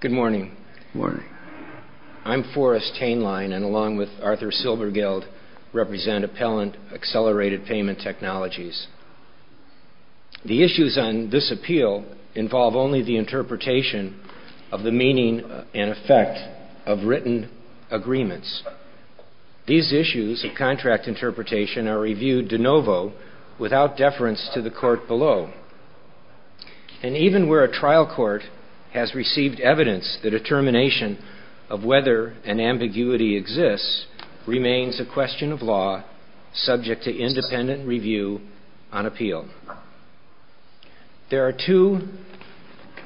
Good morning. Morning. I'm Forrest Hainline, and along with Arthur Silbergeld, represent Appellant Accelerated Payment Technologies. The issues on this appeal involve only the interpretation of the meaning and effect of written agreements. These issues of contract interpretation are reviewed de novo, without deference to the court below. And even where a trial court has received evidence, the determination of whether an ambiguity exists remains a question of law, subject to independent review on appeal. There are two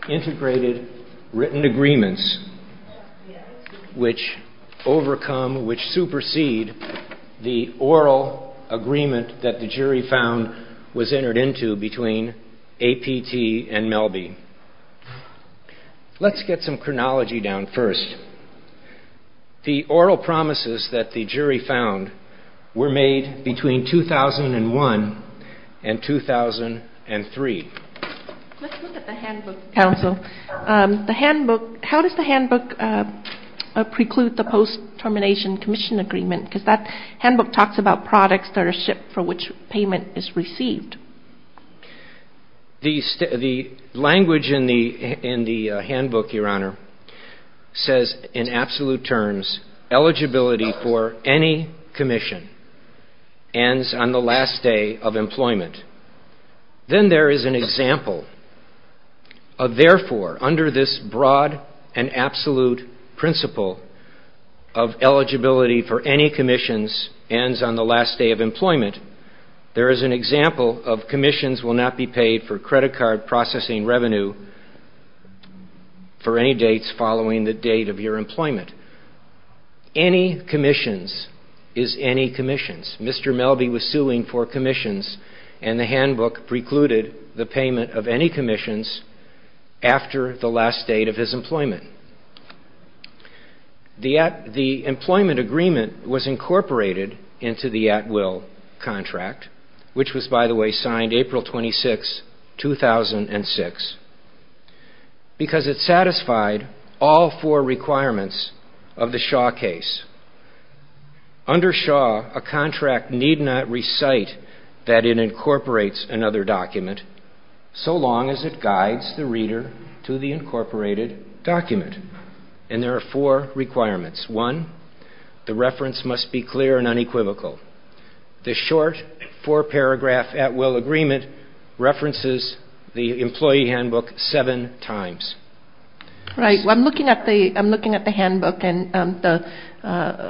integrated written agreements which overcome, which supersede, the oral agreement that the jury found was entered into between APT and Melbye. Let's get some chronology down first. The oral promises that the jury found were made between 2001 and 2003. Let's look at the handbook, counsel. The handbook, how does the handbook preclude the post-termination commission agreement? Because that handbook talks about products that are shipped for which payment is received. The language in the handbook, Your Honor, says in absolute terms, eligibility for any commission ends on the last day of employment. Then there is an example of, therefore, under this broad and absolute principle of eligibility for any commissions ends on the last day of employment, there is an example of commissions will not be paid for credit card processing revenue for any dates following the date of your employment. Any commissions is any commissions. Mr. Melbye was suing for commissions, and the handbook precluded the payment of any commissions after the last date of his employment. The employment agreement was incorporated into the at-will contract, which was, by the way, signed April 26, 2006, because it satisfied all four requirements of the Shaw case. Under Shaw, a contract need not recite that it incorporates another document so long as it guides the reader to the incorporated document. And there are four requirements. One, the reference must be clear and unequivocal. The short four-paragraph at-will agreement references the employee handbook seven times. I'm looking at the handbook and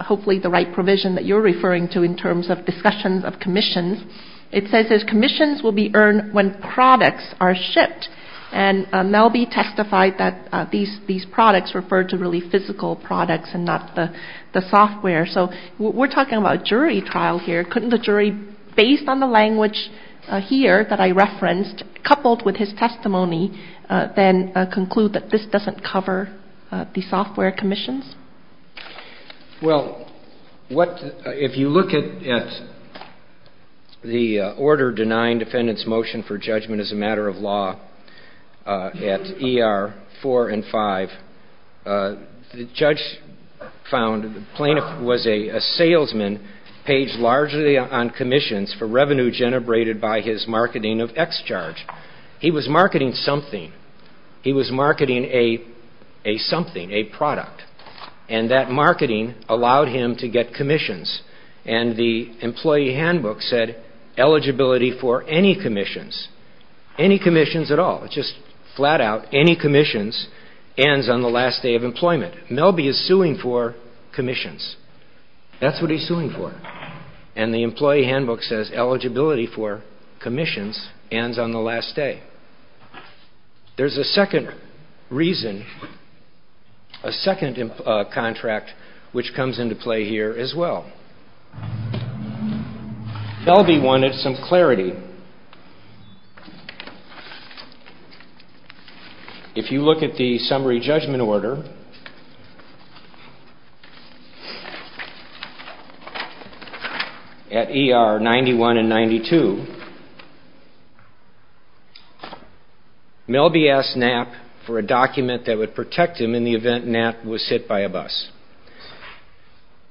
hopefully the right provision that you're referring to in terms of discussions of commissions. It says commissions will be earned when products are shipped. And Melbye testified that these products referred to really physical products and not the software. So we're talking about a jury trial here. Couldn't the jury, based on the language here that I referenced, coupled with his testimony, then conclude that this doesn't cover the software commissions? Well, if you look at the order denying defendant's motion for judgment as a matter of law at ER 4 and 5, the judge found the plaintiff was a salesman paid largely on commissions for revenue generated by his marketing of X-Charge. He was marketing something. He was marketing a something, a product. And that marketing allowed him to get commissions. And the employee handbook said eligibility for any commissions, any commissions at all. Just flat out, any commissions ends on the last day of employment. Melbye is suing for commissions. That's what he's suing for. And the employee handbook says eligibility for commissions ends on the last day. There's a second reason, a second contract which comes into play here as well. Melbye wanted some clarity. If you look at the summary judgment order at ER 91 and 92, Melbye asked Knapp for a document that would protect him in the event Knapp was hit by a bus.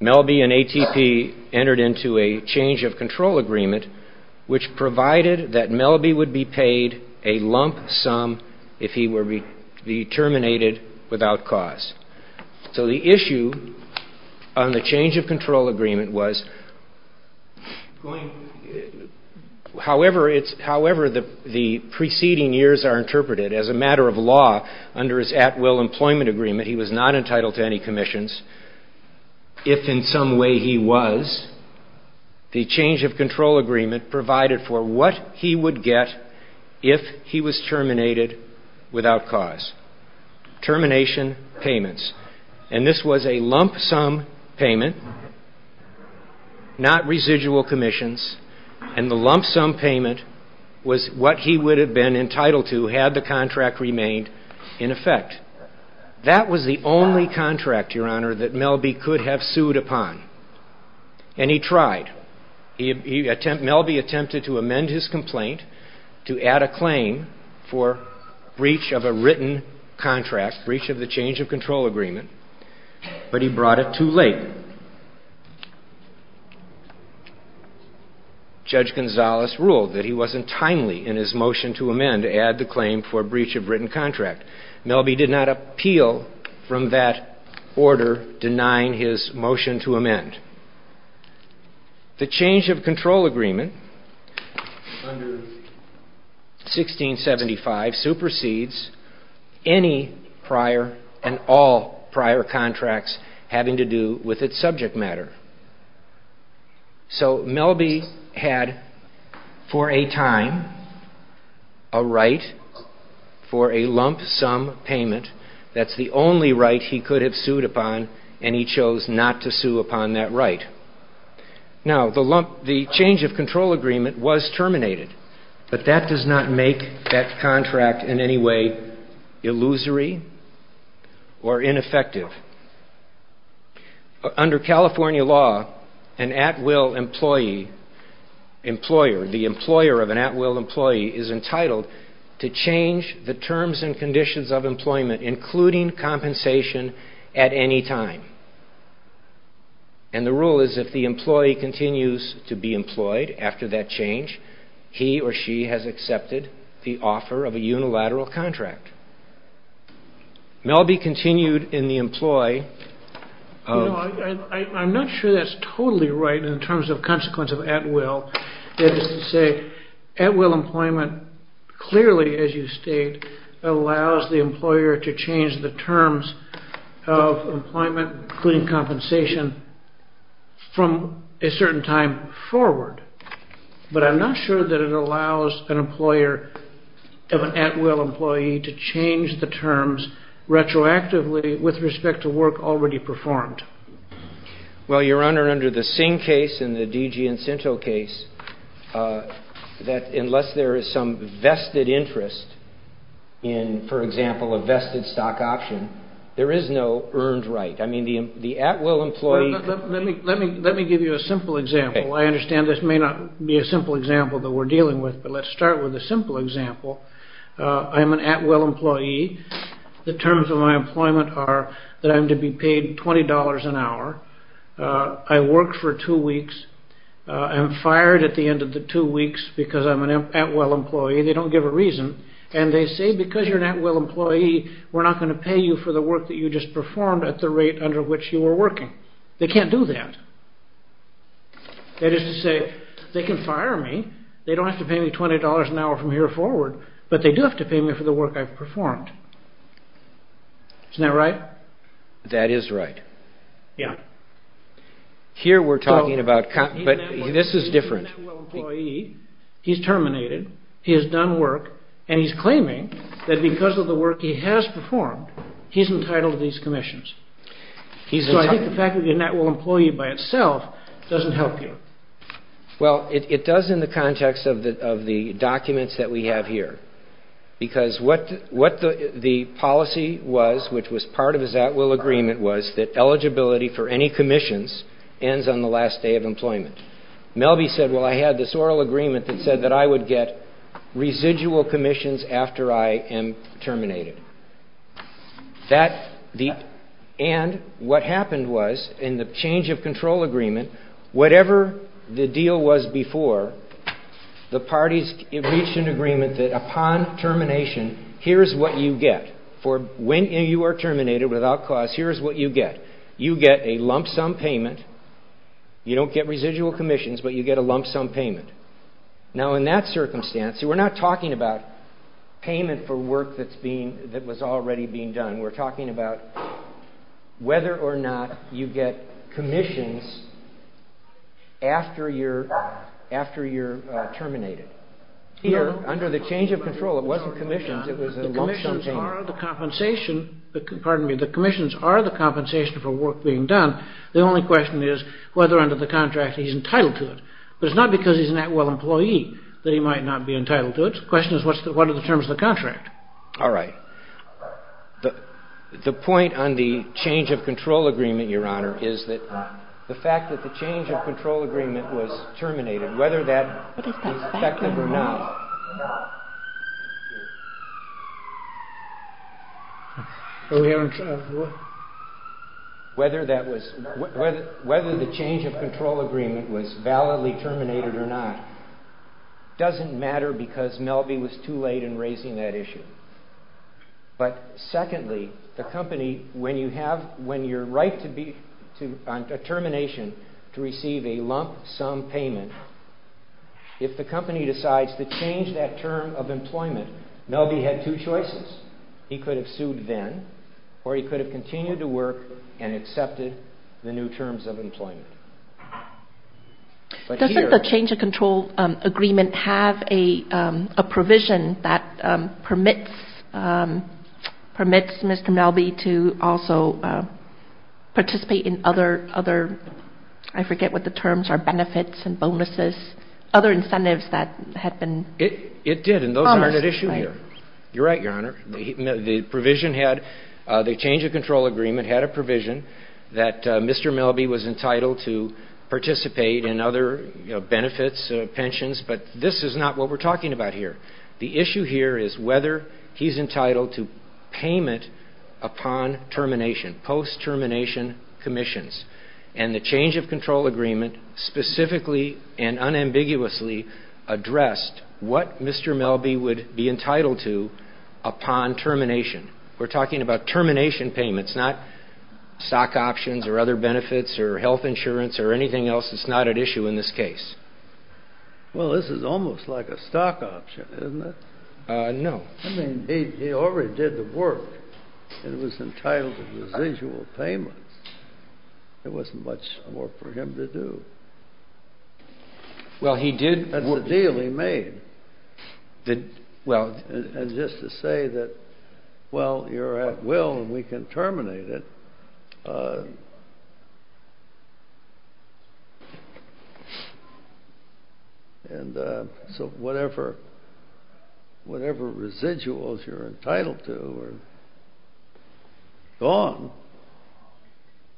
Melbye and ATP entered into a change of control agreement, which provided that Melbye would be paid a lump sum if he were terminated without cause. So the issue on the change of control agreement was, however the preceding years are interpreted, as a matter of law, under his at-will employment agreement, he was not entitled to any commissions. If in some way he was, the change of control agreement provided for what he would get if he was terminated without cause. Termination payments. And this was a lump sum payment, not residual commissions. And the lump sum payment was what he would have been entitled to had the contract remained in effect. That was the only contract, Your Honor, that Melbye could have sued upon. And he tried. Melbye attempted to amend his complaint to add a claim for breach of a written contract, breach of the change of control agreement, but he brought it too late. Judge Gonzales ruled that he wasn't timely in his motion to amend to add the claim for breach of written contract. Melbye did not appeal from that order denying his motion to amend. The change of control agreement under 1675 supersedes any prior and all prior contracts having to do with its subject matter. So Melbye had, for a time, a right for a lump sum payment. That's the only right he could have sued upon, and he chose not to sue upon that right. Now, the change of control agreement was terminated, but that does not make that contract in any way illusory or ineffective. Under California law, an at-will employee, employer, the employer of an at-will employee, is entitled to change the terms and conditions of employment, including compensation, at any time. And the rule is if the employee continues to be employed after that change, he or she has accepted the offer of a unilateral contract. Melbye continued in the employ of... You know, I'm not sure that's totally right in terms of consequence of at-will. That is to say, at-will employment clearly, as you state, allows the employer to change the terms of employment, including compensation, from a certain time forward. But I'm not sure that it allows an employer of an at-will employee to change the terms retroactively with respect to work already performed. Well, Your Honor, under the Singh case and the DG Incento case, unless there is some vested interest in, for example, a vested stock option, there is no earned right. I mean, the at-will employee... Let me give you a simple example. I understand this may not be a simple example that we're dealing with, but let's start with a simple example. I'm an at-will employee. The terms of my employment are that I'm to be paid $20 an hour. I work for two weeks. I'm fired at the end of the two weeks because I'm an at-will employee. They don't give a reason. And they say, because you're an at-will employee, we're not going to pay you for the work that you just performed at the rate under which you were working. They can't do that. That is to say, they can fire me. They don't have to pay me $20 an hour from here forward, but they do have to pay me for the work I've performed. Isn't that right? That is right. Here we're talking about... But this is different. He's an at-will employee. He's terminated. He has done work. And he's claiming that because of the work he has performed, he's entitled to these commissions. So I think the fact that you're an at-will employee by itself doesn't help you. Well, it does in the context of the documents that we have here. Because what the policy was, which was part of his at-will agreement, was that eligibility for any commissions ends on the last day of employment. Melby said, well, I had this oral agreement that said that I would get residual commissions after I am terminated. And what happened was, in the change of control agreement, whatever the deal was before, the parties reached an agreement that upon termination, here's what you get for when you are terminated without cause. Here's what you get. You get a lump sum payment. You don't get residual commissions, but you get a lump sum payment. Now, in that circumstance, we're not talking about payment for work that was already being done. We're talking about whether or not you get commissions after you're terminated. Here, under the change of control, it wasn't commissions. It was a lump sum payment. The commissions are the compensation for work being done. The only question is whether under the contract he's entitled to it. But it's not because he's an at-will employee that he might not be entitled to it. The question is, what are the terms of the contract? All right. The point on the change of control agreement, Your Honor, is that the fact that the change of control agreement was terminated, whether that was effective or not, whether the change of control agreement was validly terminated or not, doesn't matter because Melvie was too late in raising that issue. But secondly, the company, when you're right on termination to receive a lump sum payment, if the company decides to change that term of employment, Melvie had two choices. He could have sued then or he could have continued to work and accepted the new terms of employment. Doesn't the change of control agreement have a provision that permits Mr. Melvie to also participate in other, I forget what the terms are, benefits and bonuses, other incentives that had been promised? It did, and those aren't at issue here. You're right, Your Honor. The provision had, the change of control agreement had a provision that Mr. Melvie was entitled to participate in other benefits, pensions, but this is not what we're talking about here. The issue here is whether he's entitled to payment upon termination, post-termination commissions, and the change of control agreement specifically and unambiguously addressed what Mr. Melvie would be entitled to upon termination. We're talking about termination payments, not stock options or other benefits or health insurance or anything else that's not at issue in this case. Well, this is almost like a stock option, isn't it? No. I mean, he already did the work and was entitled to residual payments. There wasn't much more for him to do. Well, he did work. That's the deal he made. And just to say that, well, you're at will and we can terminate it, and so whatever residuals you're entitled to are gone,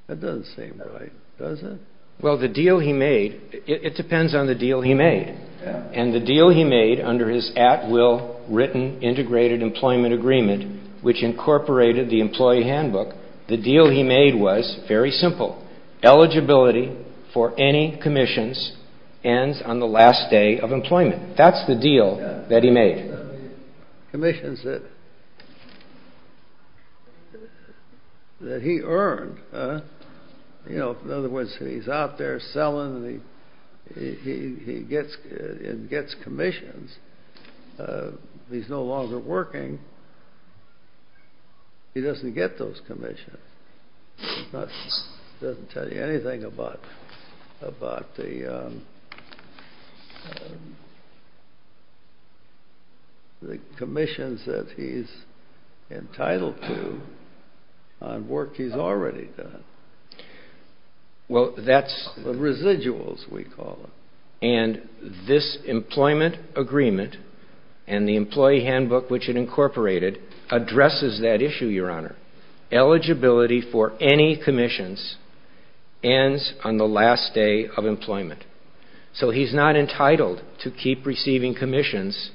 that doesn't seem right, does it? Well, the deal he made, it depends on the deal he made, and the deal he made under his at-will written integrated employment agreement, which incorporated the employee handbook, the deal he made was very simple. Eligibility for any commissions ends on the last day of employment. That's the deal that he made. Commissions that he earned. In other words, he's out there selling and he gets commissions. He's no longer working. He doesn't get those commissions. It doesn't tell you anything about the commissions that he's entitled to on work he's already done. Well, that's... The residuals, we call them. And this employment agreement and the employee handbook, which it incorporated, addresses that issue, Your Honor. Eligibility for any commissions ends on the last day of employment. So he's not entitled to keep receiving commissions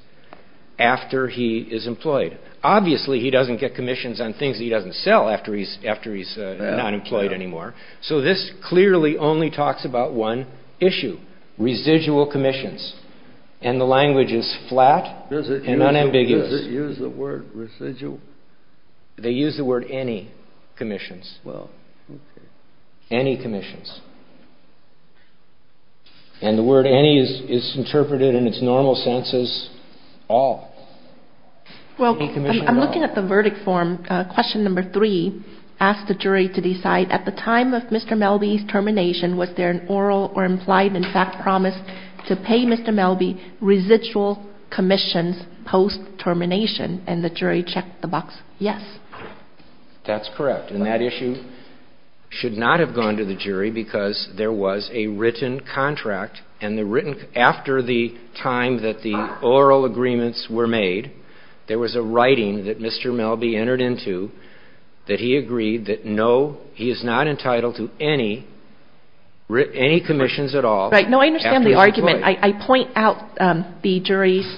after he is employed. Obviously, he doesn't get commissions on things that he doesn't sell after he's not employed anymore. So this clearly only talks about one issue, residual commissions. And the language is flat and unambiguous. Does it use the word residual? They use the word any commissions. Well, okay. Any commissions. And the word any is interpreted in its normal sense as all. Well, I'm looking at the verdict form. Question number three asks the jury to decide, at the time of Mr. Melby's termination, was there an oral or implied, in fact, promise to pay Mr. Melby residual commissions post-termination? And the jury checked the box yes. That's correct. And that issue should not have gone to the jury because there was a written contract. And the written – after the time that the oral agreements were made, there was a writing that Mr. Melby entered into that he agreed that no, he is not entitled to any commissions at all after he's employed. Right. No, I understand the argument. I point out the jury's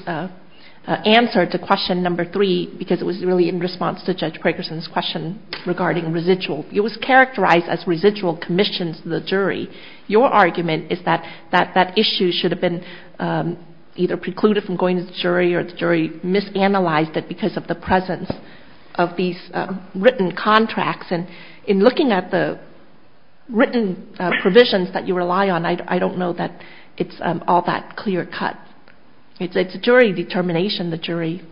answer to question number three because it was really in response to Judge Prakerson's question regarding residual. It was characterized as residual commissions to the jury. Your argument is that that issue should have been either precluded from going to the jury or the jury misanalyzed it because of the presence of these written contracts. And in looking at the written provisions that you rely on, I don't know that it's all that clear cut. It's a jury determination. The jury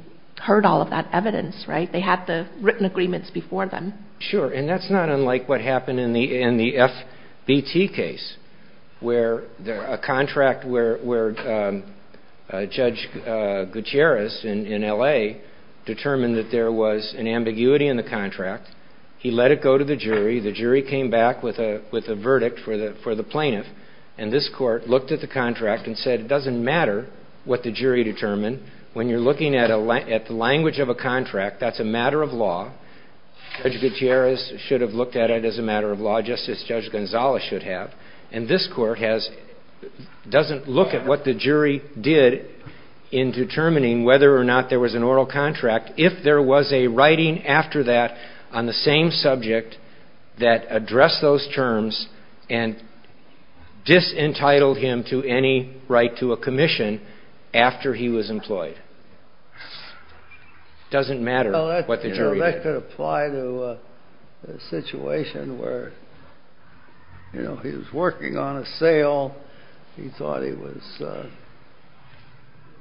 heard all of that evidence, right? They had the written agreements before them. Sure. And that's not unlike what happened in the FBT case where a contract where Judge Gutierrez in L.A. determined that there was an ambiguity in the contract. He let it go to the jury. The jury came back with a verdict for the plaintiff. And this court looked at the contract and said it doesn't matter what the jury determined. When you're looking at the language of a contract, that's a matter of law. Judge Gutierrez should have looked at it as a matter of law just as Judge Gonzales should have. And this court doesn't look at what the jury did in determining whether or not there was an oral contract if there was a writing after that on the same subject that addressed those terms and disentitled him to any right to a commission after he was employed. It doesn't matter what the jury did. That could apply to a situation where, you know, he was working on a sale. He thought he was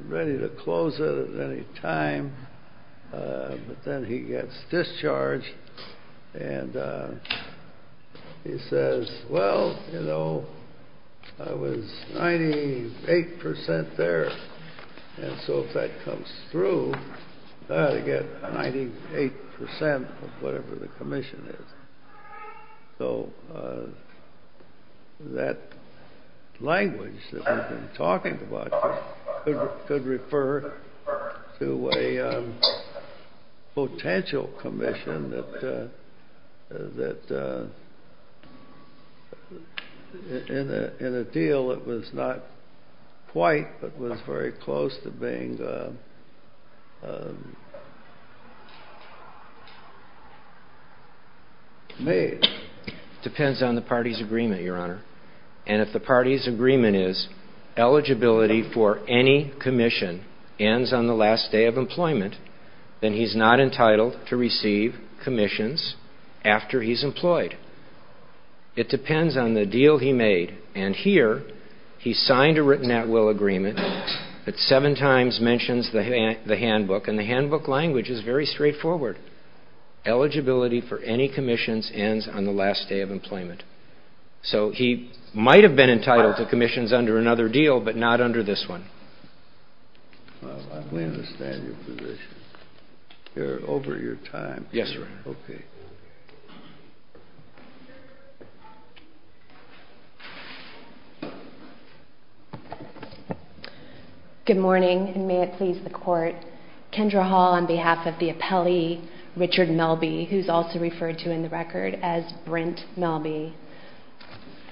ready to close it at any time. But then he gets discharged, and he says, well, you know, I was 98% there. And so if that comes through, I've got to get 98% of whatever the commission is. So that language that we've been talking about could refer to a potential commission that in a deal that was not quite but was very close to being made. It depends on the party's agreement, Your Honor. And if the party's agreement is eligibility for any commission ends on the last day of employment, then he's not entitled to receive commissions after he's employed. It depends on the deal he made. And here he signed a written at-will agreement that seven times mentions the handbook, and the handbook language is very straightforward. Eligibility for any commissions ends on the last day of employment. So he might have been entitled to commissions under another deal, but not under this one. Well, I fully understand your position. You're over your time. Yes, Your Honor. Okay. Good morning, and may it please the Court. Kendra Hall on behalf of the appellee, Richard Melby, who's also referred to in the record as Brent Melby.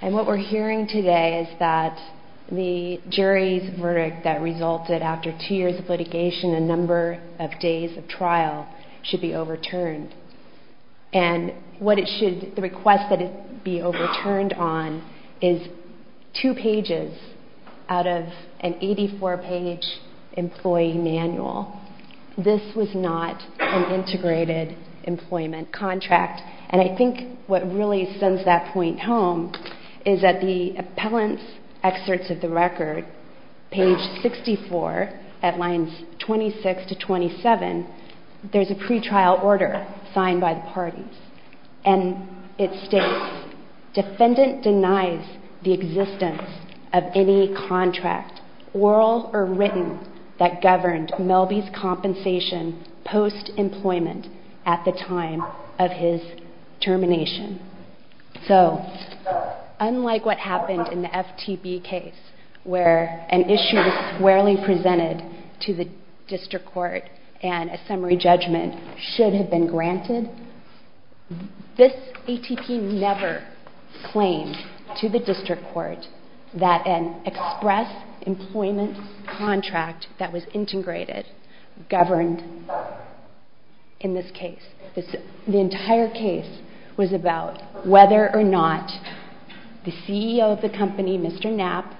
And what we're hearing today is that the jury's verdict that resulted after two years of litigation and a number of days of trial should be overturned. And what it should, the request that it be overturned on is two pages out of an 84-page employee manual. This was not an integrated employment contract. And I think what really sends that point home is that the appellant's excerpts of the record, page 64 at lines 26 to 27, there's a pretrial order signed by the parties. And it states, defendant denies the existence of any contract, oral or written, that governed Melby's compensation post-employment at the time of his termination. So, unlike what happened in the FTB case, where an issue was squarely presented to the district court and a summary judgment should have been granted, this ATP never claimed to the district court that an express employment contract that was integrated governed in this case. The entire case was about whether or not the CEO of the company, Mr. Knapp,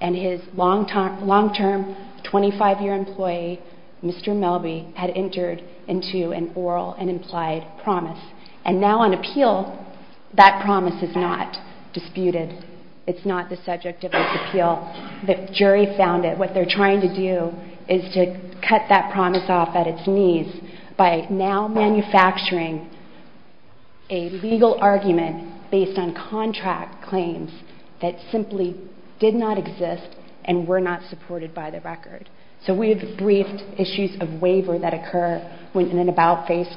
and his long-term 25-year employee, Mr. Melby, had entered into an oral and implied promise. And now on appeal, that promise is not disputed. It's not the subject of its appeal. The jury found that what they're trying to do is to cut that promise off at its knees by now manufacturing a legal argument based on contract claims that simply did not exist and were not supported by the record. So we have briefed issues of waiver that occur when an about-face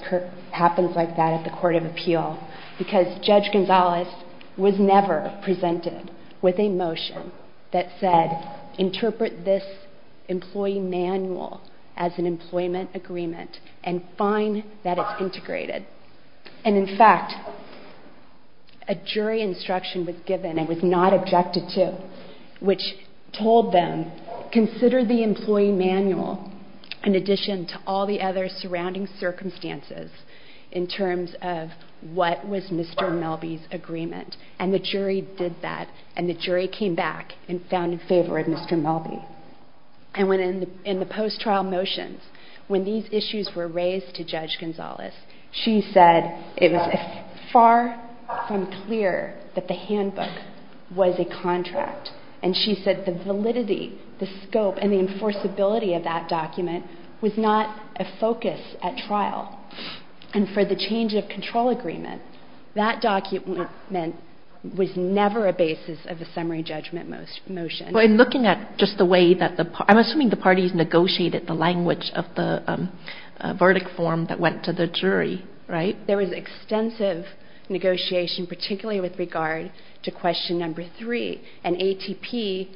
happens like that at the court of appeal. Because Judge Gonzalez was never presented with a motion that said, interpret this employee manual as an employment agreement and find that it's integrated. And in fact, a jury instruction was given and was not objected to, which told them, consider the employee manual in addition to all the other surrounding circumstances in terms of what was Mr. Melby's agreement. And the jury did that, and the jury came back and found in favor of Mr. Melby. And in the post-trial motions, when these issues were raised to Judge Gonzalez, she said it was far from clear that the handbook was a contract. And she said the validity, the scope, and the enforceability of that document was not a focus at trial. And for the change of control agreement, that document was never a basis of the summary judgment motion. Well, in looking at just the way that the parties negotiated the language of the verdict form that went to the jury, right? There was extensive negotiation, particularly with regard to question number three. And ATP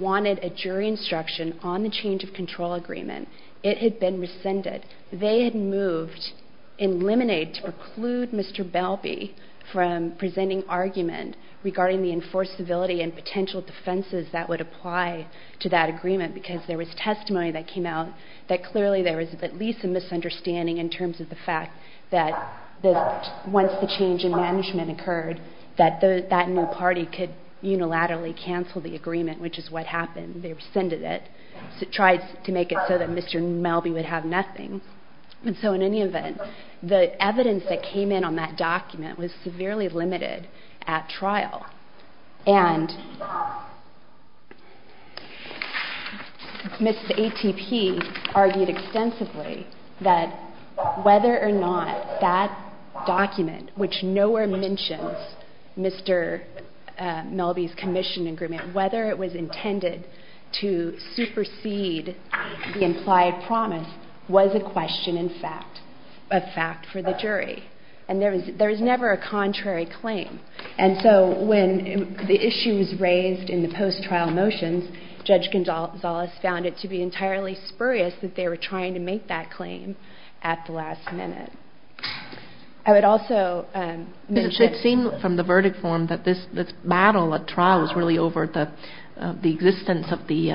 wanted a jury instruction on the change of control agreement. It had been rescinded. They had moved and eliminated to preclude Mr. Melby from presenting argument regarding the enforceability and potential defenses that would apply to that agreement because there was testimony that came out that clearly there was at least a misunderstanding in terms of the fact that once the change in management occurred, that no party could unilaterally cancel the agreement, which is what happened. They rescinded it, tried to make it so that Mr. Melby would have nothing. And so in any event, the evidence that came in on that document was severely limited at trial. And Ms. ATP argued extensively that whether or not that document, which nowhere mentions Mr. Melby's commission agreement, whether it was intended to supersede the implied promise was a question in fact, a fact for the jury. And there was never a contrary claim. And so when the issue was raised in the post-trial motions, Judge Gonzales found it to be entirely spurious that they were trying to make that claim at the last minute. I would also mention... It seemed from the verdict form that this battle at trial was really over the existence of the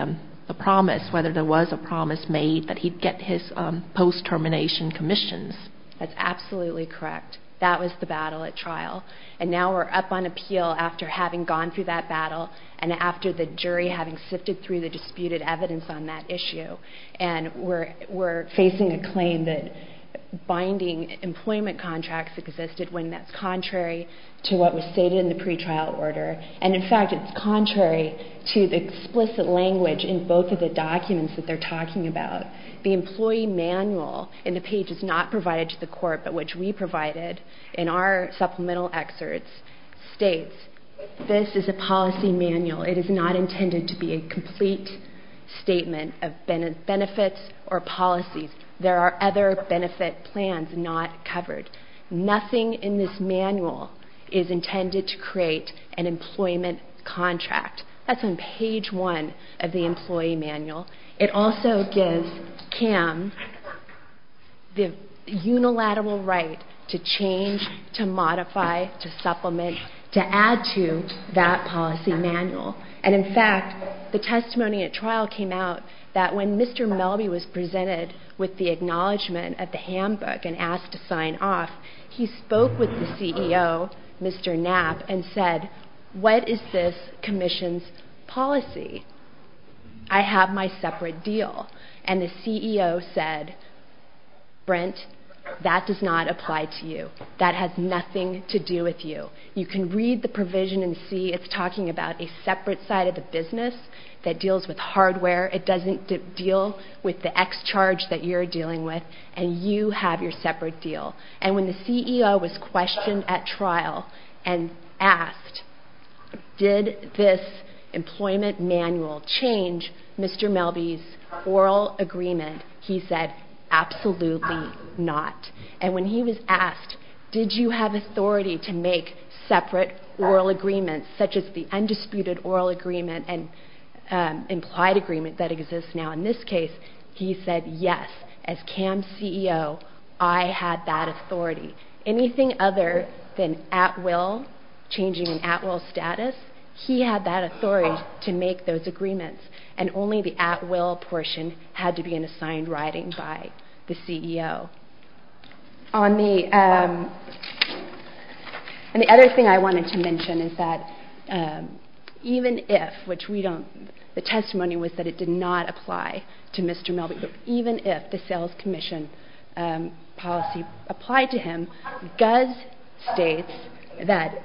promise, whether there was a promise made that he'd get his post-termination commissions. That's absolutely correct. That was the battle at trial. And now we're up on appeal after having gone through that battle and after the jury having sifted through the disputed evidence on that issue. And we're facing a claim that binding employment contracts existed when that's contrary to what was stated in the pretrial order. And in fact, it's contrary to the explicit language in both of the documents that they're talking about. The employee manual in the page is not provided to the court, but which we provided in our supplemental excerpts states this is a policy manual. It is not intended to be a complete statement of benefits or policies. There are other benefit plans not covered. Nothing in this manual is intended to create an employment contract. That's on page one of the employee manual. It also gives CAM the unilateral right to change, to modify, to supplement, to add to that policy manual. And in fact, the testimony at trial came out that when Mr. Melby was presented with the acknowledgement at the handbook and asked to sign off, he spoke with the CEO, Mr. Knapp, and said, what is this commission's policy? I have my separate deal. And the CEO said, Brent, that does not apply to you. That has nothing to do with you. You can read the provision and see it's talking about a separate side of the business that deals with hardware. It doesn't deal with the X charge that you're dealing with, and you have your separate deal. And when the CEO was questioned at trial and asked, did this employment manual change Mr. Melby's oral agreement, he said, absolutely not. And when he was asked, did you have authority to make separate oral agreements, such as the undisputed oral agreement and implied agreement that exists now in this case, he said, yes, as CAM's CEO, I had that authority. Anything other than at will, changing an at will status, he had that authority to make those agreements, and only the at will portion had to be in assigned writing by the CEO. And the other thing I wanted to mention is that even if, which the testimony was that it did not apply to Mr. Melby, but even if the sales commission policy applied to him, GUS states that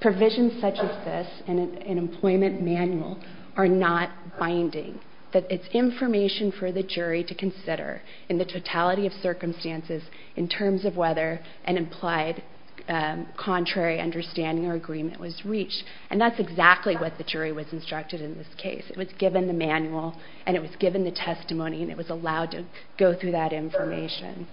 provisions such as this in an employment manual are not binding, that it's information for the jury to consider in the totality of circumstances in terms of whether an implied contrary understanding or agreement was reached. And that's exactly what the jury was instructed in this case. It was given the manual, and it was given the testimony, and it was allowed to go through that information.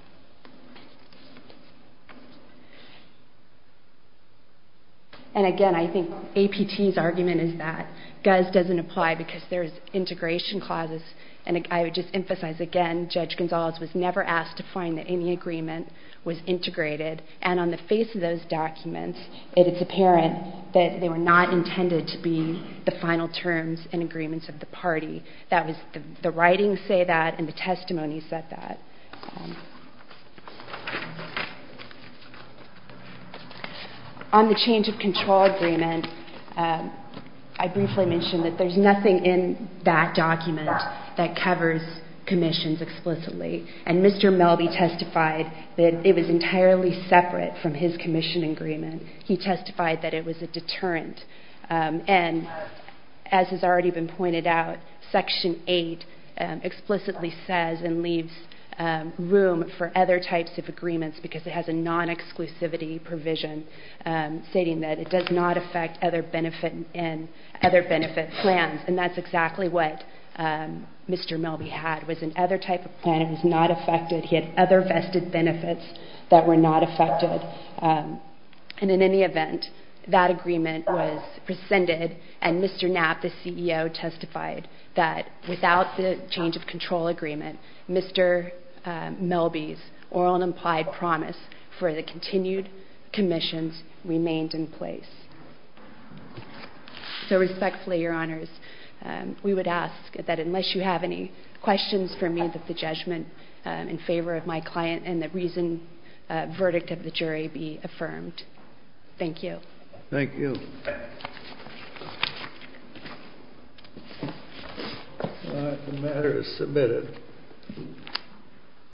And again, I think APT's argument is that GUS doesn't apply because there's integration clauses, and I would just emphasize again, Judge Gonzales was never asked to find that any agreement was integrated, and on the face of those documents, it's apparent that they were not intended to be the final terms and agreements of the party. The writings say that, and the testimony said that. On the change of control agreement, I briefly mentioned that there's nothing in that document that covers commissions explicitly, and Mr. Melby testified that it was entirely separate from his commission agreement. He testified that it was a deterrent, and as has already been pointed out, Section 8 explicitly says and leaves room for other types of agreements because it has a non-exclusivity provision stating that it does not affect other benefit plans, and that's exactly what Mr. Melby had was another type of plan. It was not affected. He had other vested benefits that were not affected, and in any event, that agreement was rescinded, and Mr. Knapp, the CEO, testified that without the change of control agreement, Mr. Melby's oral and implied promise for the continued commissions remained in place. So respectfully, Your Honors, we would ask that unless you have any questions for me, that the judgment in favor of my client and the reasoned verdict of the jury be affirmed. Thank you. Thank you. The matter is submitted.